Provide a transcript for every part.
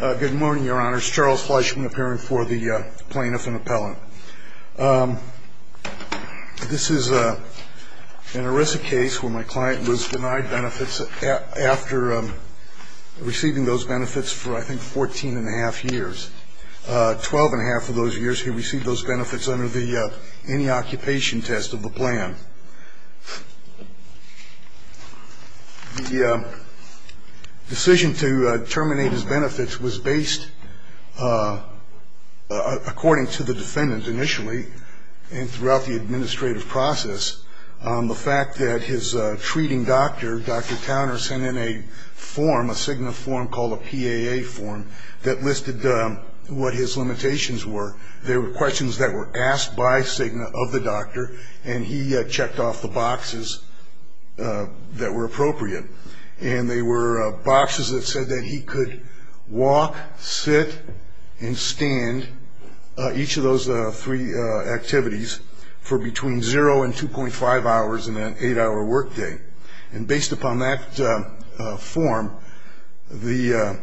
Good morning, your honors. Charles Fleischman appearing for the plaintiff and appellant. This is an ERISA case where my client was denied benefits after receiving those benefits for, I think, 14 and a half years. Twelve and a half of those years he received those benefits under the any occupation test of the plan. The decision to terminate his benefits was based, according to the defendant initially and throughout the administrative process, on the fact that his treating doctor, Dr. Towner, sent in a form, a Cigna form called a PAA form, that listed what his limitations were. They were questions that were asked by Cigna of the doctor, and he checked off the boxes that were appropriate. And they were boxes that said that he could walk, sit, and stand, each of those three activities, for between 0 and 2.5 hours in an 8-hour workday. And based upon that form, the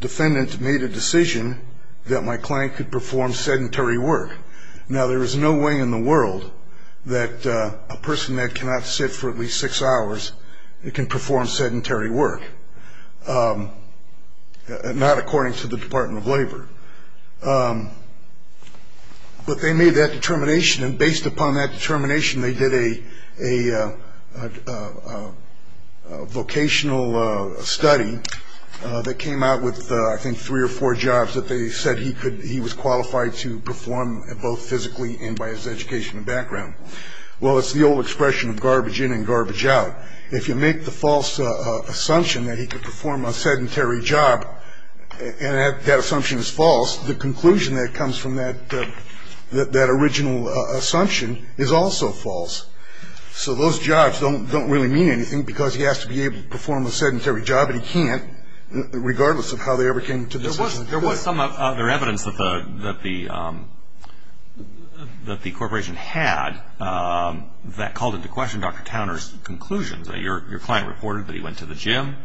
defendant made a decision that my client could perform sedentary work. Now, there is no way in the world that a person that cannot sit for at least 6 hours can perform sedentary work, not according to the Department of Labor. But they made that determination. And based upon that determination, they did a vocational study that came out with, I think, three or four jobs that they said he was qualified to perform, both physically and by his education and background. Well, it's the old expression of garbage in and garbage out. If you make the false assumption that he could perform a sedentary job, and that assumption is false, the conclusion that comes from that original assumption is also false. So those jobs don't really mean anything, because he has to be able to perform a sedentary job, and he can't, regardless of how they ever came to the decision. There was some other evidence that the corporation had that called into question Dr. Towner's conclusions. Your client reported that he went to the gym,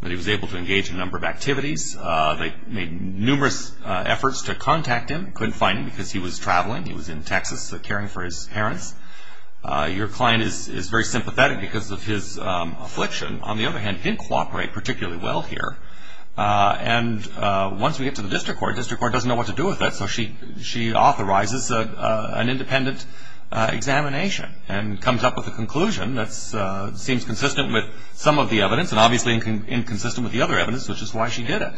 that he was able to engage in a number of activities. They made numerous efforts to contact him. Couldn't find him because he was traveling. He was in Texas caring for his parents. Your client is very sympathetic because of his affliction. On the other hand, he didn't cooperate particularly well here. And once we get to the district court, district court doesn't know what to do with that, so she authorizes an independent examination and comes up with a conclusion that seems consistent with some of the evidence and obviously inconsistent with the other evidence, which is why she did it.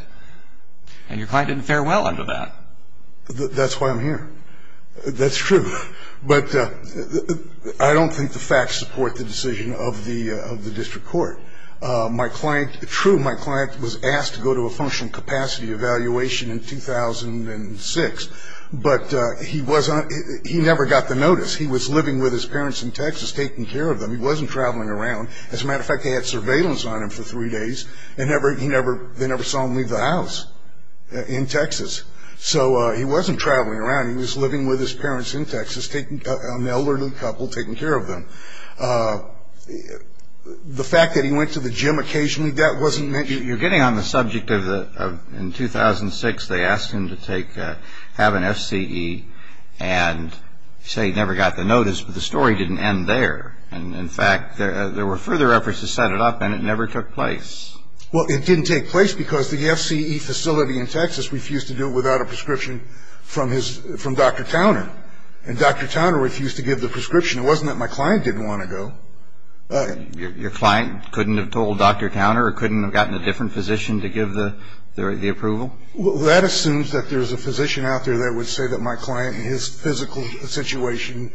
And your client didn't fare well under that. That's why I'm here. That's true. But I don't think the facts support the decision of the district court. True, my client was asked to go to a functional capacity evaluation in 2006, but he never got the notice. He was living with his parents in Texas taking care of them. He wasn't traveling around. As a matter of fact, they had surveillance on him for three days, and they never saw him leave the house in Texas. So he wasn't traveling around. He was living with his parents in Texas, an elderly couple taking care of them. The fact that he went to the gym occasionally, that wasn't mentioned. You're getting on the subject of in 2006 they asked him to have an FCE and say he never got the notice, but the story didn't end there. In fact, there were further efforts to set it up, and it never took place. Well, it didn't take place because the FCE facility in Texas refused to do it without a prescription from Dr. Towner, and Dr. Towner refused to give the prescription. It wasn't that my client didn't want to go. Your client couldn't have told Dr. Towner or couldn't have gotten a different physician to give the approval? That assumes that there's a physician out there that would say that my client, his physical situation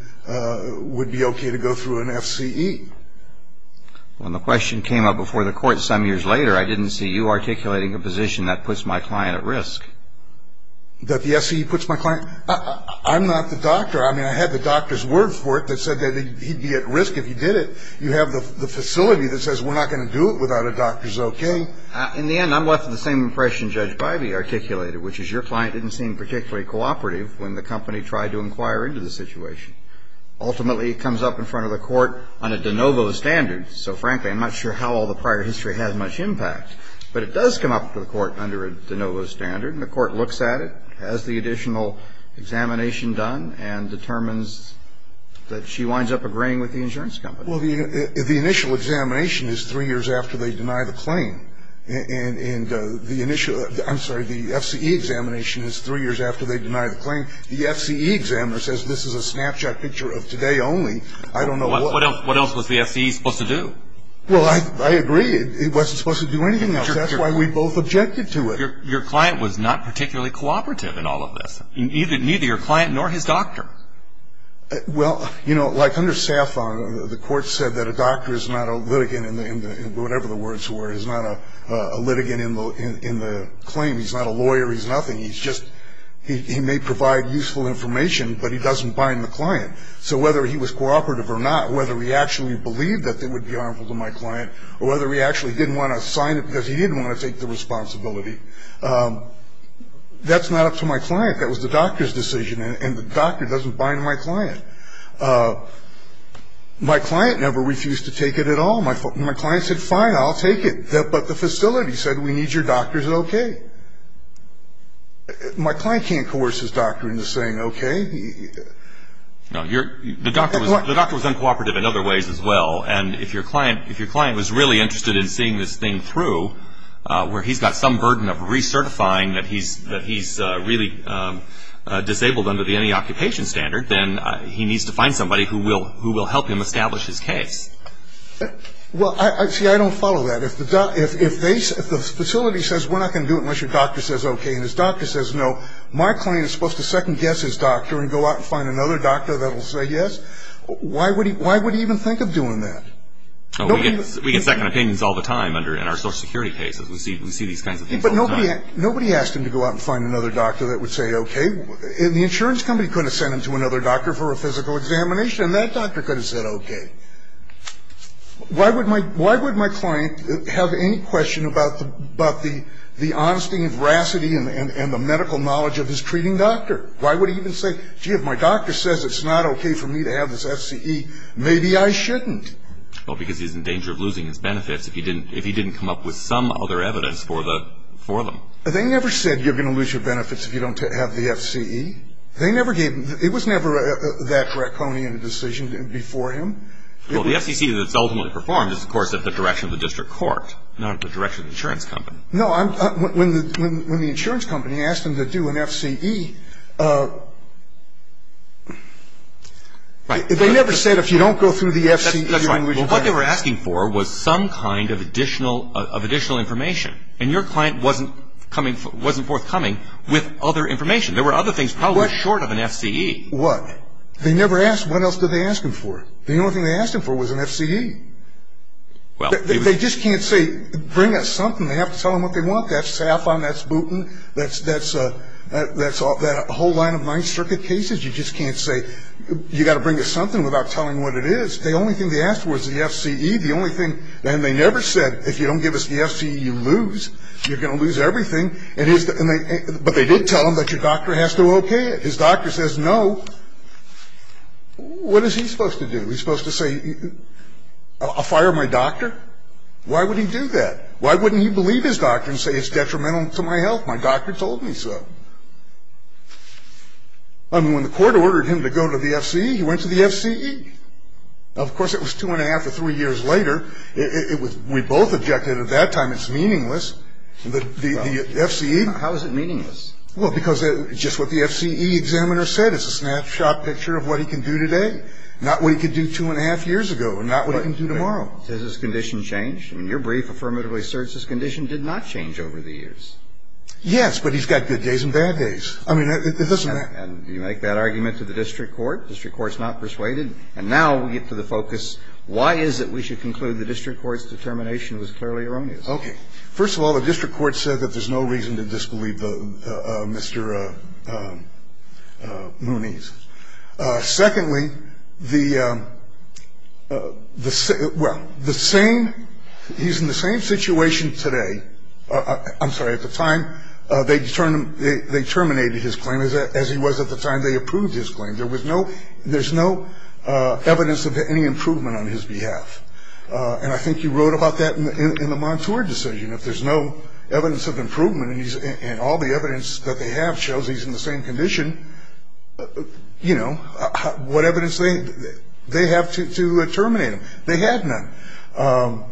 would be okay to go through an FCE. When the question came up before the court some years later, I didn't see you articulating a position that puts my client at risk. I'm not the doctor. I mean, I had the doctor's word for it that said that he'd be at risk if he did it. You have the facility that says we're not going to do it without a doctor's okay. In the end, I'm left with the same impression Judge Bivey articulated, which is your client didn't seem particularly cooperative when the company tried to inquire into the situation. Ultimately, it comes up in front of the court on a de novo standard, so frankly, I'm not sure how all the prior history had much impact, but it does come up to the court under a de novo standard, and the court looks at it, has the additional examination done, and determines that she winds up agreeing with the insurance company. Well, the initial examination is three years after they deny the claim. And the initial – I'm sorry, the FCE examination is three years after they deny the claim. The FCE examiner says this is a snapshot picture of today only. I don't know why. What else was the FCE supposed to do? Well, I agree. It wasn't supposed to do anything else. That's why we both objected to it. Your client was not particularly cooperative in all of this. Neither your client nor his doctor. Well, you know, like under SAFON, the court said that a doctor is not a litigant in the – whatever the words were, is not a litigant in the claim. He's not a lawyer. He's nothing. He's just – he may provide useful information, but he doesn't bind the client. So whether he was cooperative or not, whether he actually believed that it would be harmful to my client, or whether he actually didn't want to sign it because he didn't want to take the responsibility, that's not up to my client. That was the doctor's decision. And the doctor doesn't bind my client. My client never refused to take it at all. My client said, fine, I'll take it. But the facility said, we need your doctor's okay. My client can't coerce his doctor into saying okay. The doctor was uncooperative in other ways as well. And if your client was really interested in seeing this thing through, where he's got some burden of recertifying that he's really disabled under the anti-occupation standard, then he needs to find somebody who will help him establish his case. Well, see, I don't follow that. If the facility says, we're not going to do it unless your doctor says okay, and his doctor says no, my client is supposed to second-guess his doctor and go out and find another doctor that will say yes? Why would he even think of doing that? We get second opinions all the time in our social security cases. We see these kinds of things all the time. But nobody asked him to go out and find another doctor that would say okay. And the insurance company couldn't have sent him to another doctor for a physical examination, and that doctor could have said okay. Why would my client have any question about the honesty and veracity and the medical knowledge of his treating doctor? Why would he even say, gee, if my doctor says it's not okay for me to have this FCE, maybe I shouldn't? Well, because he's in danger of losing his benefits if he didn't come up with some other evidence for them. They never said you're going to lose your benefits if you don't have the FCE. They never gave him the – it was never that draconian a decision before him. Well, the FCC that's ultimately performed is, of course, at the direction of the district court, not at the direction of the insurance company. No. When the insurance company asked him to do an FCE, they never said if you don't go through the FCE. That's right. Well, what they were asking for was some kind of additional information. And your client wasn't forthcoming with other information. There were other things probably short of an FCE. What? They never asked – what else did they ask him for? The only thing they asked him for was an FCE. They just can't say bring us something. They have to tell him what they want. That's Saffron. That's butan. That's a whole line of nine circuit cases. You just can't say – you've got to bring us something without telling what it is. The only thing they asked for was the FCE. The only thing – and they never said if you don't give us the FCE, you lose. You're going to lose everything. But they did tell him that your doctor has to okay it. His doctor says no. What is he supposed to do? He's supposed to say I'll fire my doctor? Why would he do that? Why wouldn't he believe his doctor and say it's detrimental to my health? My doctor told me so. I mean, when the court ordered him to go to the FCE, he went to the FCE. Of course, it was two and a half to three years later. We both objected at that time it's meaningless. The FCE – How is it meaningless? Well, because just what the FCE examiner said. It's a snapshot picture of what he can do today. Not what he could do two and a half years ago and not what he can do tomorrow. But has his condition changed? I mean, your brief affirmatively asserts his condition did not change over the years. Yes, but he's got good days and bad days. I mean, it doesn't matter. And you make that argument to the district court. The district court's not persuaded. And now we get to the focus, why is it we should conclude the district court's determination was clearly erroneous? Okay. First of all, the district court said that there's no reason to disbelieve Mr. Mooney's. Secondly, the – well, the same – he's in the same situation today – I'm sorry. At the time, they terminated his claim as he was at the time they approved his claim. There was no – there's no evidence of any improvement on his behalf. And I think you wrote about that in the Montour decision. If there's no evidence of improvement and all the evidence that they have shows he's in the same condition, you know, what evidence they have to terminate him. They had none.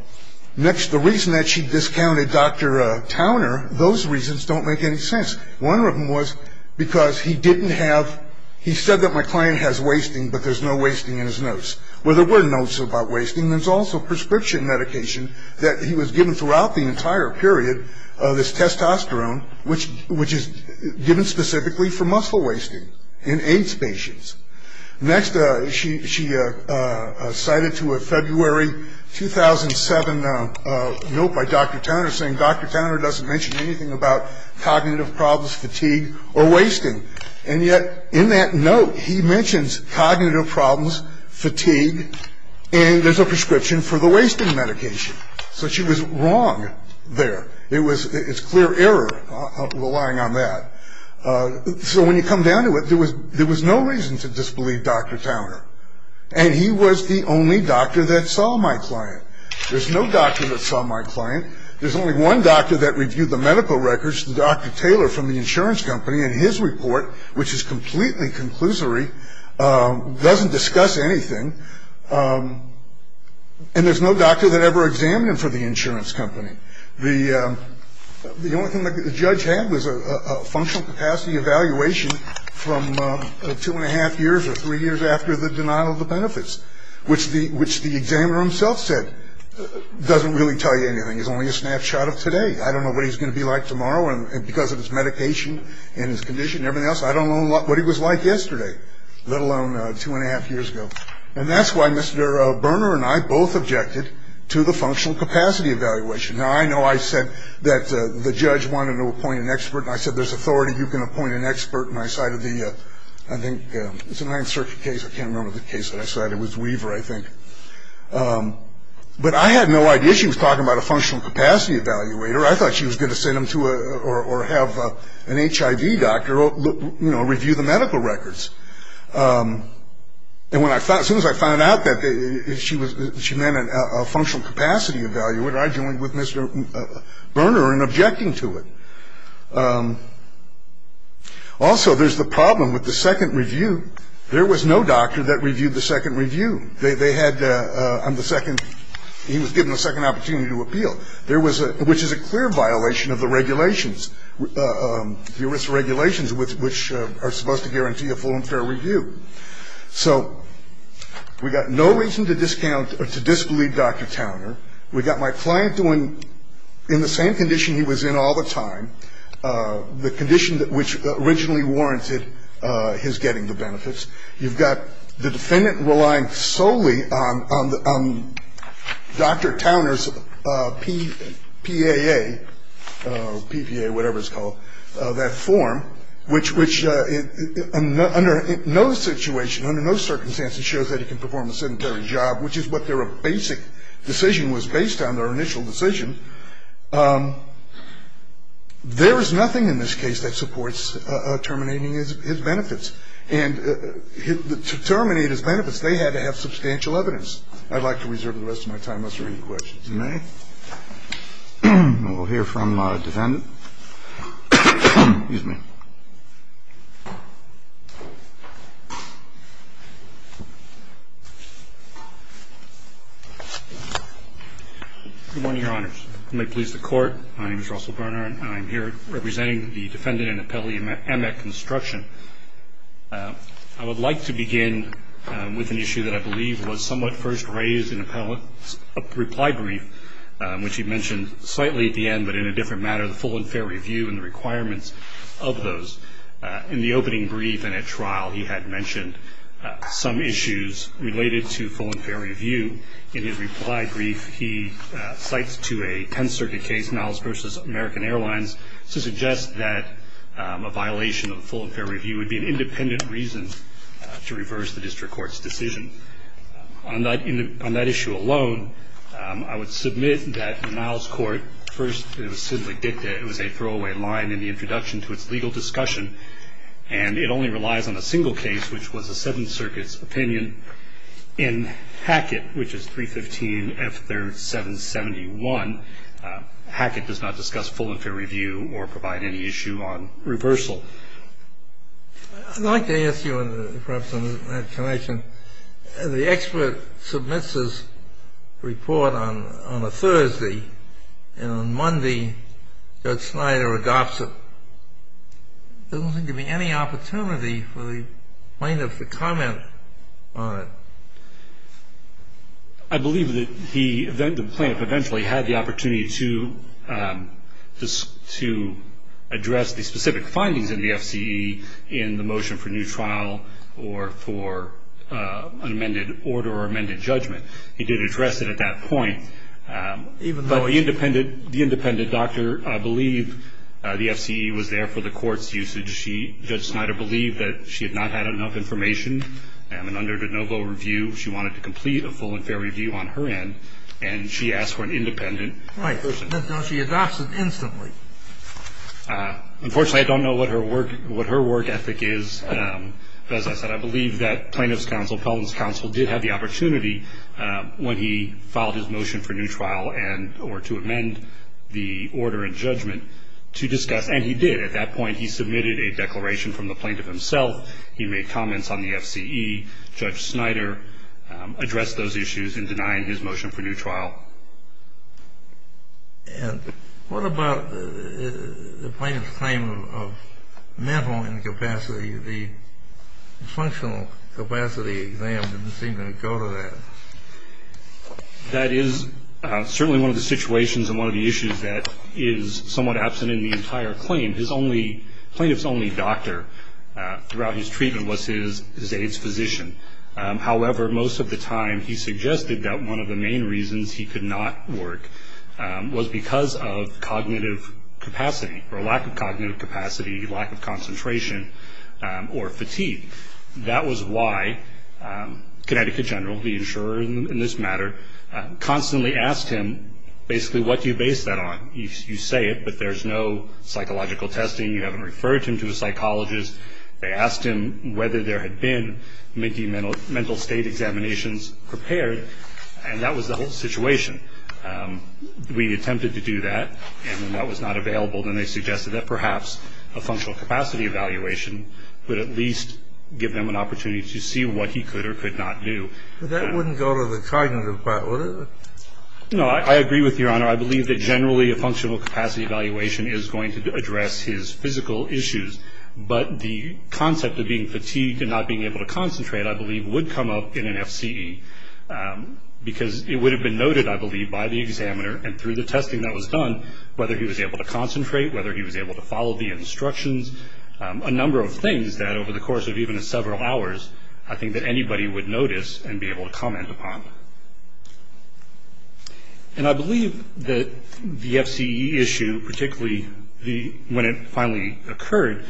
Next, the reason that she discounted Dr. Towner, those reasons don't make any sense. One of them was because he didn't have – he said that my client has wasting, but there's no wasting in his notes. Well, there were notes about wasting. There's also prescription medication that he was given throughout the entire period, this testosterone, which is given specifically for muscle wasting in AIDS patients. Next, she cited to a February 2007 note by Dr. Towner saying, Dr. Towner doesn't mention anything about cognitive problems, fatigue, or wasting. And yet, in that note, he mentions cognitive problems, fatigue, and there's a prescription for the wasting medication. So she was wrong there. It's clear error, relying on that. So when you come down to it, there was no reason to disbelieve Dr. Towner, and he was the only doctor that saw my client. There's no doctor that saw my client. There's only one doctor that reviewed the medical records, Dr. Taylor from the insurance company, and his report, which is completely conclusory, doesn't discuss anything, and there's no doctor that ever examined him for the insurance company. The only thing the judge had was a functional capacity evaluation from two and a half years or three years after the denial of the benefits, which the examiner himself said doesn't really tell you anything. It's only a snapshot of today. I don't know what he's going to be like tomorrow, and because of his medication and his condition and everything else, I don't know what he was like yesterday, let alone two and a half years ago. And that's why Mr. Berner and I both objected to the functional capacity evaluation. Now, I know I said that the judge wanted to appoint an expert, and I said there's authority. You can appoint an expert, and I cited the, I think it's a Ninth Circuit case. I can't remember the case that I cited. It was Weaver, I think. But I had no idea she was talking about a functional capacity evaluator. I thought she was going to send him to or have an HIV doctor review the medical records. And as soon as I found out that she meant a functional capacity evaluator, I joined with Mr. Berner in objecting to it. Also, there's the problem with the second review. There was no doctor that reviewed the second review. They had on the second, he was given a second opportunity to appeal, which is a clear violation of the regulations, the ERISA regulations, which are supposed to guarantee a full and fair review. So we got no reason to discount or to disbelieve Dr. Towner. We got my client doing, in the same condition he was in all the time, the condition which originally warranted his getting the benefits. You've got the defendant relying solely on Dr. Towner's PAA, PPA, whatever it's called, that form, which under no situation, under no circumstances shows that he can perform a sedentary job, which is what their basic decision was based on, their initial decision. There is nothing in this case that supports terminating his benefits. And to terminate his benefits, they had to have substantial evidence. I'd like to reserve the rest of my time, unless there are any questions. If you may. We'll hear from the defendant. Excuse me. Good morning, Your Honors. You may please the Court. My name is Russell Berner, and I'm here representing the defendant in appellee Emmett Construction. I would like to begin with an issue that I believe was somewhat first raised in the reply brief, which he mentioned slightly at the end, but in a different manner, the full and fair review and the requirements of those. In the opening brief in a trial, he had mentioned some issues related to full and fair review. In his reply brief, he cites to a 10-circuit case, Niles v. American Airlines, to suggest that a violation of the full and fair review would be an independent reason to reverse the district court's decision. On that issue alone, I would submit that in Niles' court, first it was simply dicta. It was a throwaway line in the introduction to its legal discussion. And it only relies on a single case, which was a 7th Circuit's opinion. In Hackett, which is 315 F 3rd 771, Hackett does not discuss full and fair review or provide any issue on reversal. I'd like to ask you, perhaps on that connection, the expert submits his report on a Thursday, and on Monday Judge Snyder adopts it. There doesn't seem to be any opportunity for the plaintiff to comment on it. I believe that the plaintiff eventually had the opportunity to address the specific findings in the F.C.E. in the motion for new trial or for unamended order or amended judgment. He did address it at that point. But the independent doctor believed the F.C.E. was there for the court's usage. Judge Snyder believed that she had not had enough information. And under de novo review, she wanted to complete a full and fair review on her end. And she asked for an independent person. Right. So she adopts it instantly. Unfortunately, I don't know what her work ethic is. As I said, I believe that plaintiff's counsel, appellant's counsel did have the opportunity when he filed his motion for new trial or to amend the order and judgment to discuss. And he did at that point. He submitted a declaration from the plaintiff himself. He made comments on the F.C.E. Judge Snyder addressed those issues in denying his motion for new trial. And what about the plaintiff's claim of mental incapacity? The functional capacity exam didn't seem to go to that. That is certainly one of the situations and one of the issues that is somewhat absent in the entire claim. His only, plaintiff's only doctor throughout his treatment was his AIDS physician. However, most of the time he suggested that one of the main reasons he could not work was because of cognitive capacity or lack of cognitive capacity, lack of concentration or fatigue. That was why Connecticut General, the insurer in this matter, constantly asked him basically what do you base that on. You say it, but there's no psychological testing. You haven't referred him to a psychologist. They asked him whether there had been mental state examinations prepared, and that was the whole situation. We attempted to do that, and when that was not available, then they suggested that perhaps a functional capacity evaluation would at least give him an opportunity to see what he could or could not do. But that wouldn't go to the cognitive part, would it? No. I agree with Your Honor. I believe that generally a functional capacity evaluation is going to address his physical issues. But the concept of being fatigued and not being able to concentrate, I believe, would come up in an FCE, because it would have been noted, I believe, by the examiner and through the testing that was done, whether he was able to concentrate, whether he was able to follow the instructions, a number of things that over the course of even several hours I think that anybody would notice and be able to comment upon. And I believe that the FCE issue, particularly when it finally occurred,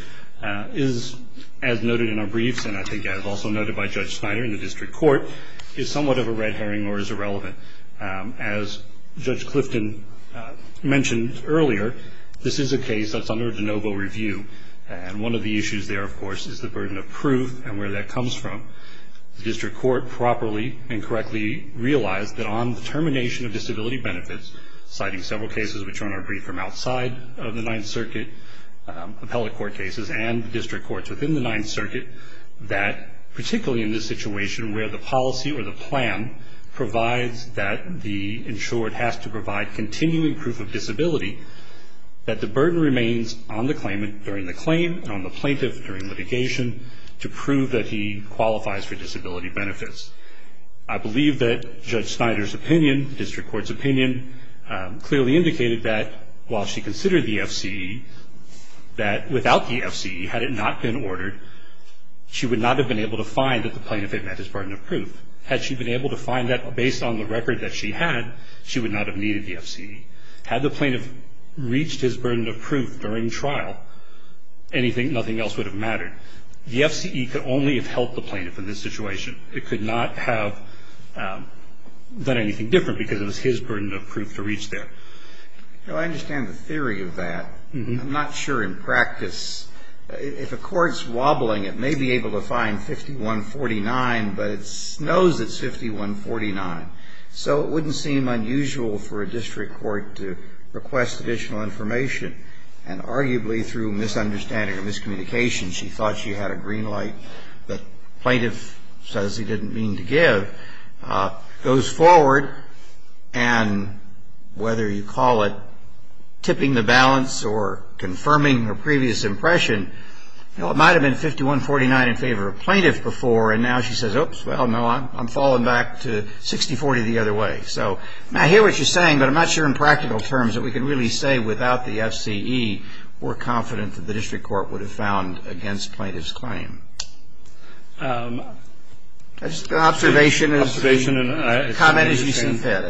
is as noted in our briefs and I think as also noted by Judge Snyder in the district court, is somewhat of a red herring or is irrelevant. As Judge Clifton mentioned earlier, this is a case that's under de novo review, and one of the issues there, of course, is the burden of proof and where that comes from. The district court properly and correctly realized that on the termination of disability benefits, citing several cases which are on our brief from outside of the Ninth Circuit, appellate court cases and district courts within the Ninth Circuit, that particularly in this situation where the policy or the plan provides that the insured has to provide continuing proof of disability, that the burden remains on the claimant during the claim and on the plaintiff during litigation to prove that he qualifies for disability benefits. I believe that Judge Snyder's opinion, district court's opinion, clearly indicated that while she considered the FCE, that without the FCE, had it not been ordered, she would not have been able to find that the plaintiff had met his burden of proof. Had she been able to find that based on the record that she had, she would not have needed the FCE. Had the plaintiff reached his burden of proof during trial, anything, nothing else would have mattered. The FCE could only have helped the plaintiff in this situation. It could not have done anything different because it was his burden of proof to reach there. I understand the theory of that. I'm not sure in practice. If a court's wobbling, it may be able to find 5149, but it knows it's 5149. So it wouldn't seem unusual for a district court to request additional information, and arguably through misunderstanding or miscommunication, she thought she had a green light that the plaintiff says he didn't mean to give, goes forward, and whether you call it tipping the balance or confirming her previous impression, it might have been 5149 in favor of plaintiff before, and now she says, oops, well, no, I'm falling back to 60-40 the other way. So I hear what you're saying, but I'm not sure in practical terms that we can really say without the FCE, we're confident that the district court would have found against plaintiff's claim. Just an observation. Comment as you see fit.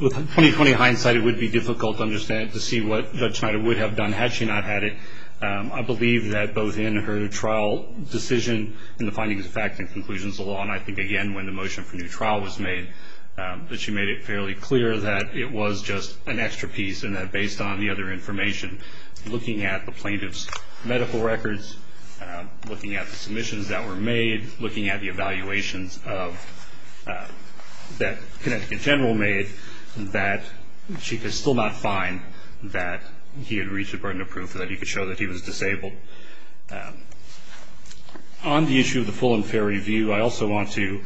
With 20-20 hindsight, it would be difficult to understand to see what Judge Schneider would have done had she not had it. I believe that both in her trial decision and the findings of fact and conclusions of law, and I think, again, when the motion for new trial was made, that she made it fairly clear that it was just an extra piece and that based on the other information, looking at the plaintiff's medical records, looking at the submissions that were made, looking at the evaluations that Connecticut General made, that she could still not find that he had reached the burden of proof that he could show that he was disabled. On the issue of the full and fair review, I also want to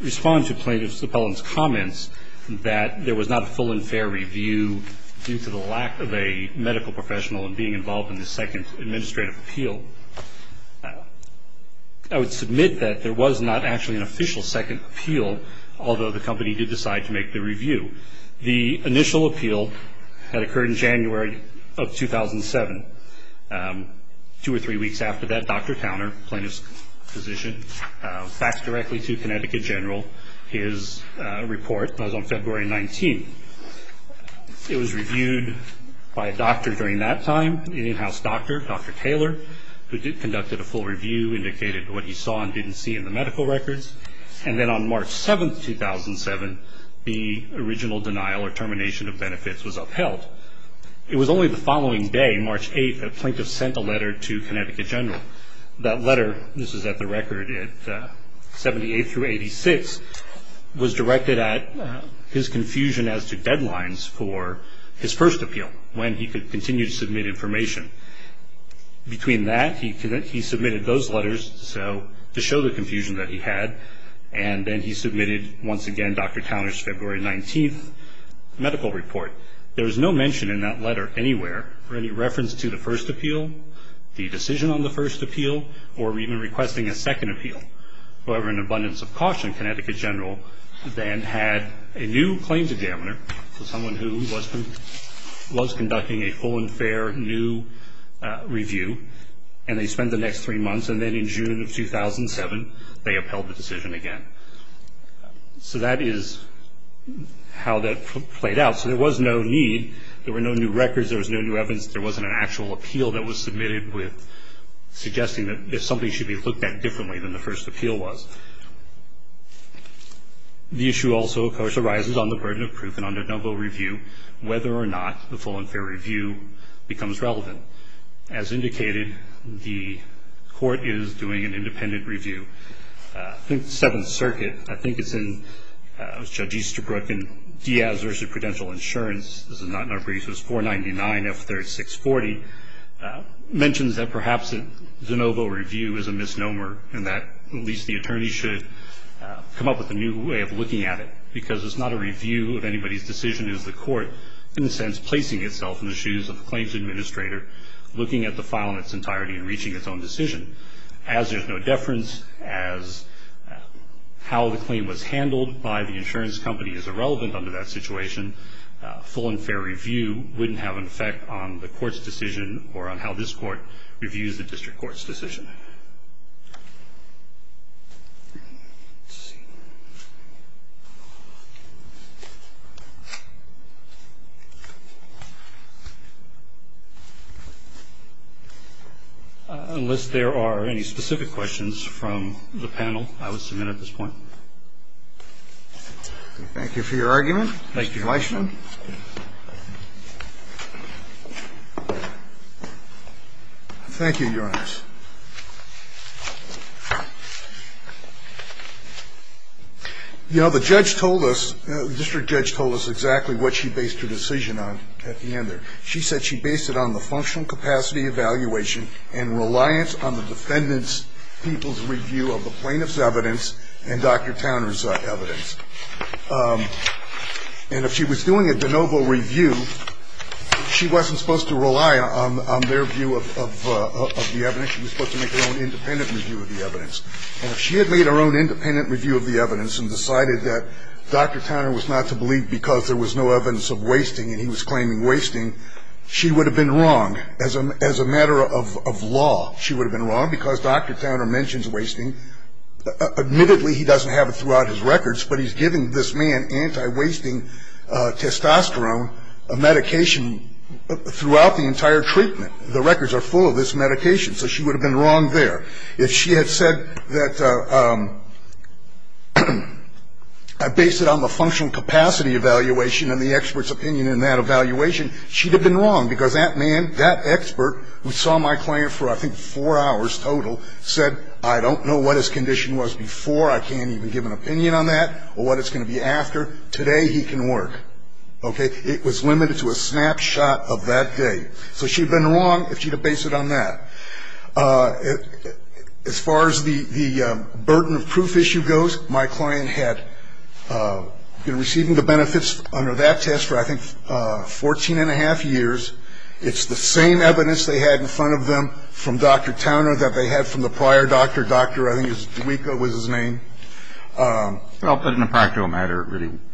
respond to plaintiff's comments that there was not a full and fair review due to the lack of a medical professional and being involved in the second administrative appeal. I would submit that there was not actually an official second appeal, although the company did decide to make the review. The initial appeal had occurred in January of 2007. Two or three weeks after that, Dr. Towner, plaintiff's physician, faxed directly to Connecticut General his report. That was on February 19. It was reviewed by a doctor during that time, an in-house doctor, Dr. Taylor, who conducted a full review, indicated what he saw and didn't see in the medical records. And then on March 7, 2007, the original denial or termination of benefits was upheld. It was only the following day, March 8, that plaintiff sent a letter to Connecticut General. That letter, this is at the record at 78 through 86, was directed at his confusion as to deadlines for his first appeal, when he could continue to submit information. Between that, he submitted those letters to show the confusion that he had, and then he submitted, once again, Dr. Towner's February 19 medical report. There was no mention in that letter anywhere for any reference to the first appeal, the decision on the first appeal, or even requesting a second appeal. However, in abundance of caution, Connecticut General then had a new claims examiner, so someone who was conducting a full and fair new review, and they spent the next three months. And then in June of 2007, they upheld the decision again. So that is how that played out. So there was no need. There were no new records. There was no new evidence. There wasn't an actual appeal that was submitted with suggesting that something should be looked at differently than the first appeal was. The issue also, of course, arises on the burden of proof and on de novo review, whether or not the full and fair review becomes relevant. As indicated, the court is doing an independent review. I think the Seventh Circuit, I think it's in Judge Easterbrook and Diaz vs. Prudential Insurance. This is not in our briefs. It's 499F3640, mentions that perhaps a de novo review is a misnomer, and that at least the attorney should come up with a new way of looking at it, because it's not a review of anybody's decision. It is the court, in a sense, placing itself in the shoes of the claims administrator, looking at the file in its entirety and reaching its own decision. As there's no deference, as how the claim was handled by the insurance company is irrelevant under that situation, full and fair review wouldn't have an effect on the court's decision or on how this court reviews the district court's decision. Unless there are any specific questions from the panel, I would submit at this point. Thank you for your argument. Thank you. Thank you, Your Honor. You know, the judge told us, the district judge told us exactly what she based her decision on at the end there. She said she based it on the functional capacity evaluation and reliance on the defendant's people's review of the plaintiff's evidence and Dr. Towner's evidence. And if she was doing a de novo review, she wasn't supposed to rely on their view of the evidence. She was supposed to make her own independent review of the evidence. And if she had made her own independent review of the evidence and decided that Dr. Towner was not to believe because there was no evidence of wasting and he was claiming wasting, she would have been wrong. As a matter of law, she would have been wrong because Dr. Towner mentions wasting. Admittedly, he doesn't have it throughout his records, but he's giving this man anti-wasting testosterone medication throughout the entire treatment. The records are full of this medication. So she would have been wrong there. If she had said that I based it on the functional capacity evaluation and the expert's opinion in that evaluation, she would have been wrong because that man, that expert, who saw my client for, I think, four hours total, said, I don't know what his condition was before, I can't even give an opinion on that, or what it's going to be after. Today he can work. Okay? It was limited to a snapshot of that day. So she would have been wrong if she had based it on that. As far as the burden of proof issue goes, my client had been receiving the benefits under that test for, I think, 14 and a half years. It's the same evidence they had in front of them from Dr. Towner that they had from the prior doctor. Doctor, I think his, Deweyka was his name. Well, but in a practical matter,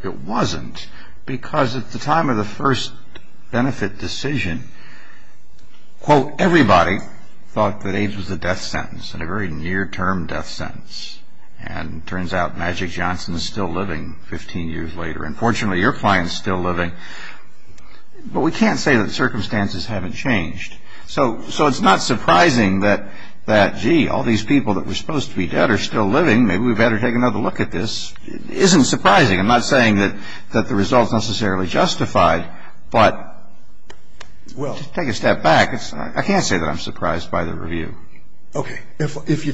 it wasn't, because at the time of the first benefit decision, quote, everybody thought that AIDS was a death sentence, and a very near-term death sentence. And it turns out Magic Johnson is still living 15 years later. And fortunately, your client is still living. But we can't say that circumstances haven't changed. So it's not surprising that, gee, all these people that were supposed to be dead are still living. Maybe we better take another look at this. It isn't surprising. I'm not saying that the result is necessarily justified. But take a step back. I can't say that I'm surprised by the review. Okay. And, in fact, that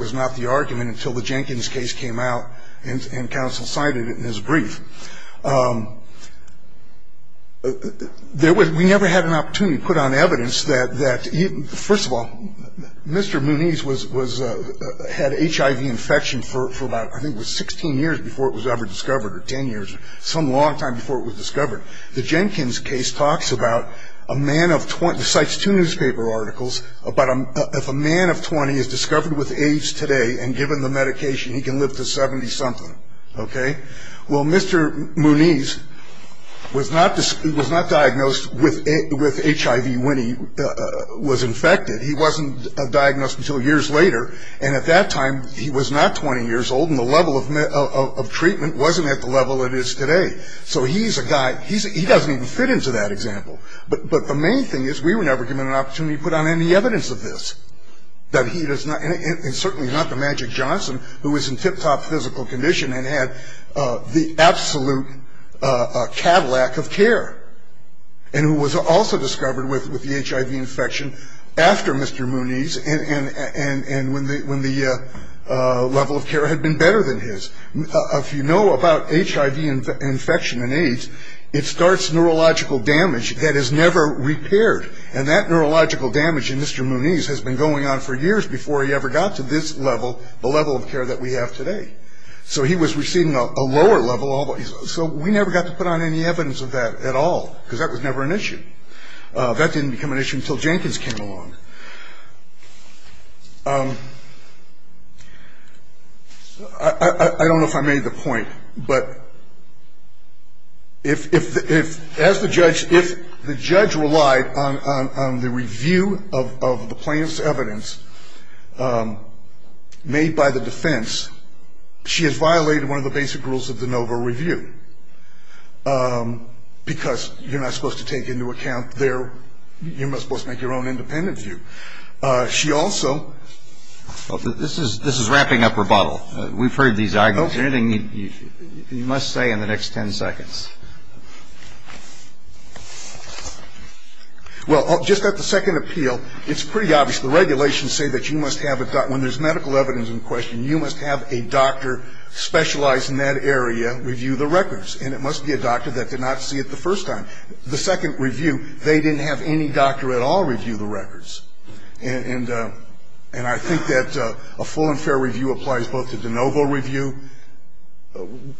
was not the argument until the Jenkins case came out and counsel cited it in his brief. We never had an opportunity to put on evidence that, first of all, Mr. Munez had HIV infection for about, I think it was 16 years before it was ever discovered, or 10 years, some long time before it was discovered. The Jenkins case talks about a man of 20. It cites two newspaper articles about if a man of 20 is discovered with AIDS today and given the medication, he can live to 70-something. Okay. Well, Mr. Munez was not diagnosed with HIV when he was infected. He wasn't diagnosed until years later. And at that time, he was not 20 years old, and the level of treatment wasn't at the level it is today. So he's a guy. He doesn't even fit into that example. But the main thing is we were never given an opportunity to put on any evidence of this, and certainly not the Magic Johnson, who was in tip-top physical condition and had the absolute Cadillac of care, and who was also discovered with the HIV infection after Mr. Munez and when the level of care had been better than his. If you know about HIV infection and AIDS, it starts neurological damage that is never repaired, and that neurological damage in Mr. Munez has been going on for years before he ever got to this level, the level of care that we have today. So he was receiving a lower level. So we never got to put on any evidence of that at all because that was never an issue. That didn't become an issue until Jenkins came along. I don't know if I made the point, but if, as the judge, if the judge relied on the review of the plaintiff's evidence made by the defense, she has violated one of the basic rules of the NOVA review because you're not supposed to take into account their ‑‑ So the judge is not supposed to look at the record and say, you know, this is the record that you have to review. She also ‑‑ This is wrapping up rebuttal. We've heard these arguments. Anything you must say in the next ten seconds. Well, just at the second appeal, it's pretty obvious. The regulations say that you must have a doctor ‑‑ when there's medical evidence in question, you must have a doctor specialized in that area review the records. And it must be a doctor that did not see it the first time. The second review, they didn't have any doctor at all review the records. And I think that a full and fair review applies both to de novo review,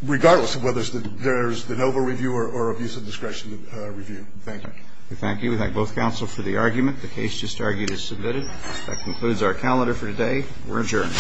regardless of whether there's de novo review or abuse of discretion review. Thank you. We thank you. We thank both counsel for the argument. The case just argued is submitted. That concludes our calendar for today. We're adjourned. Thank you.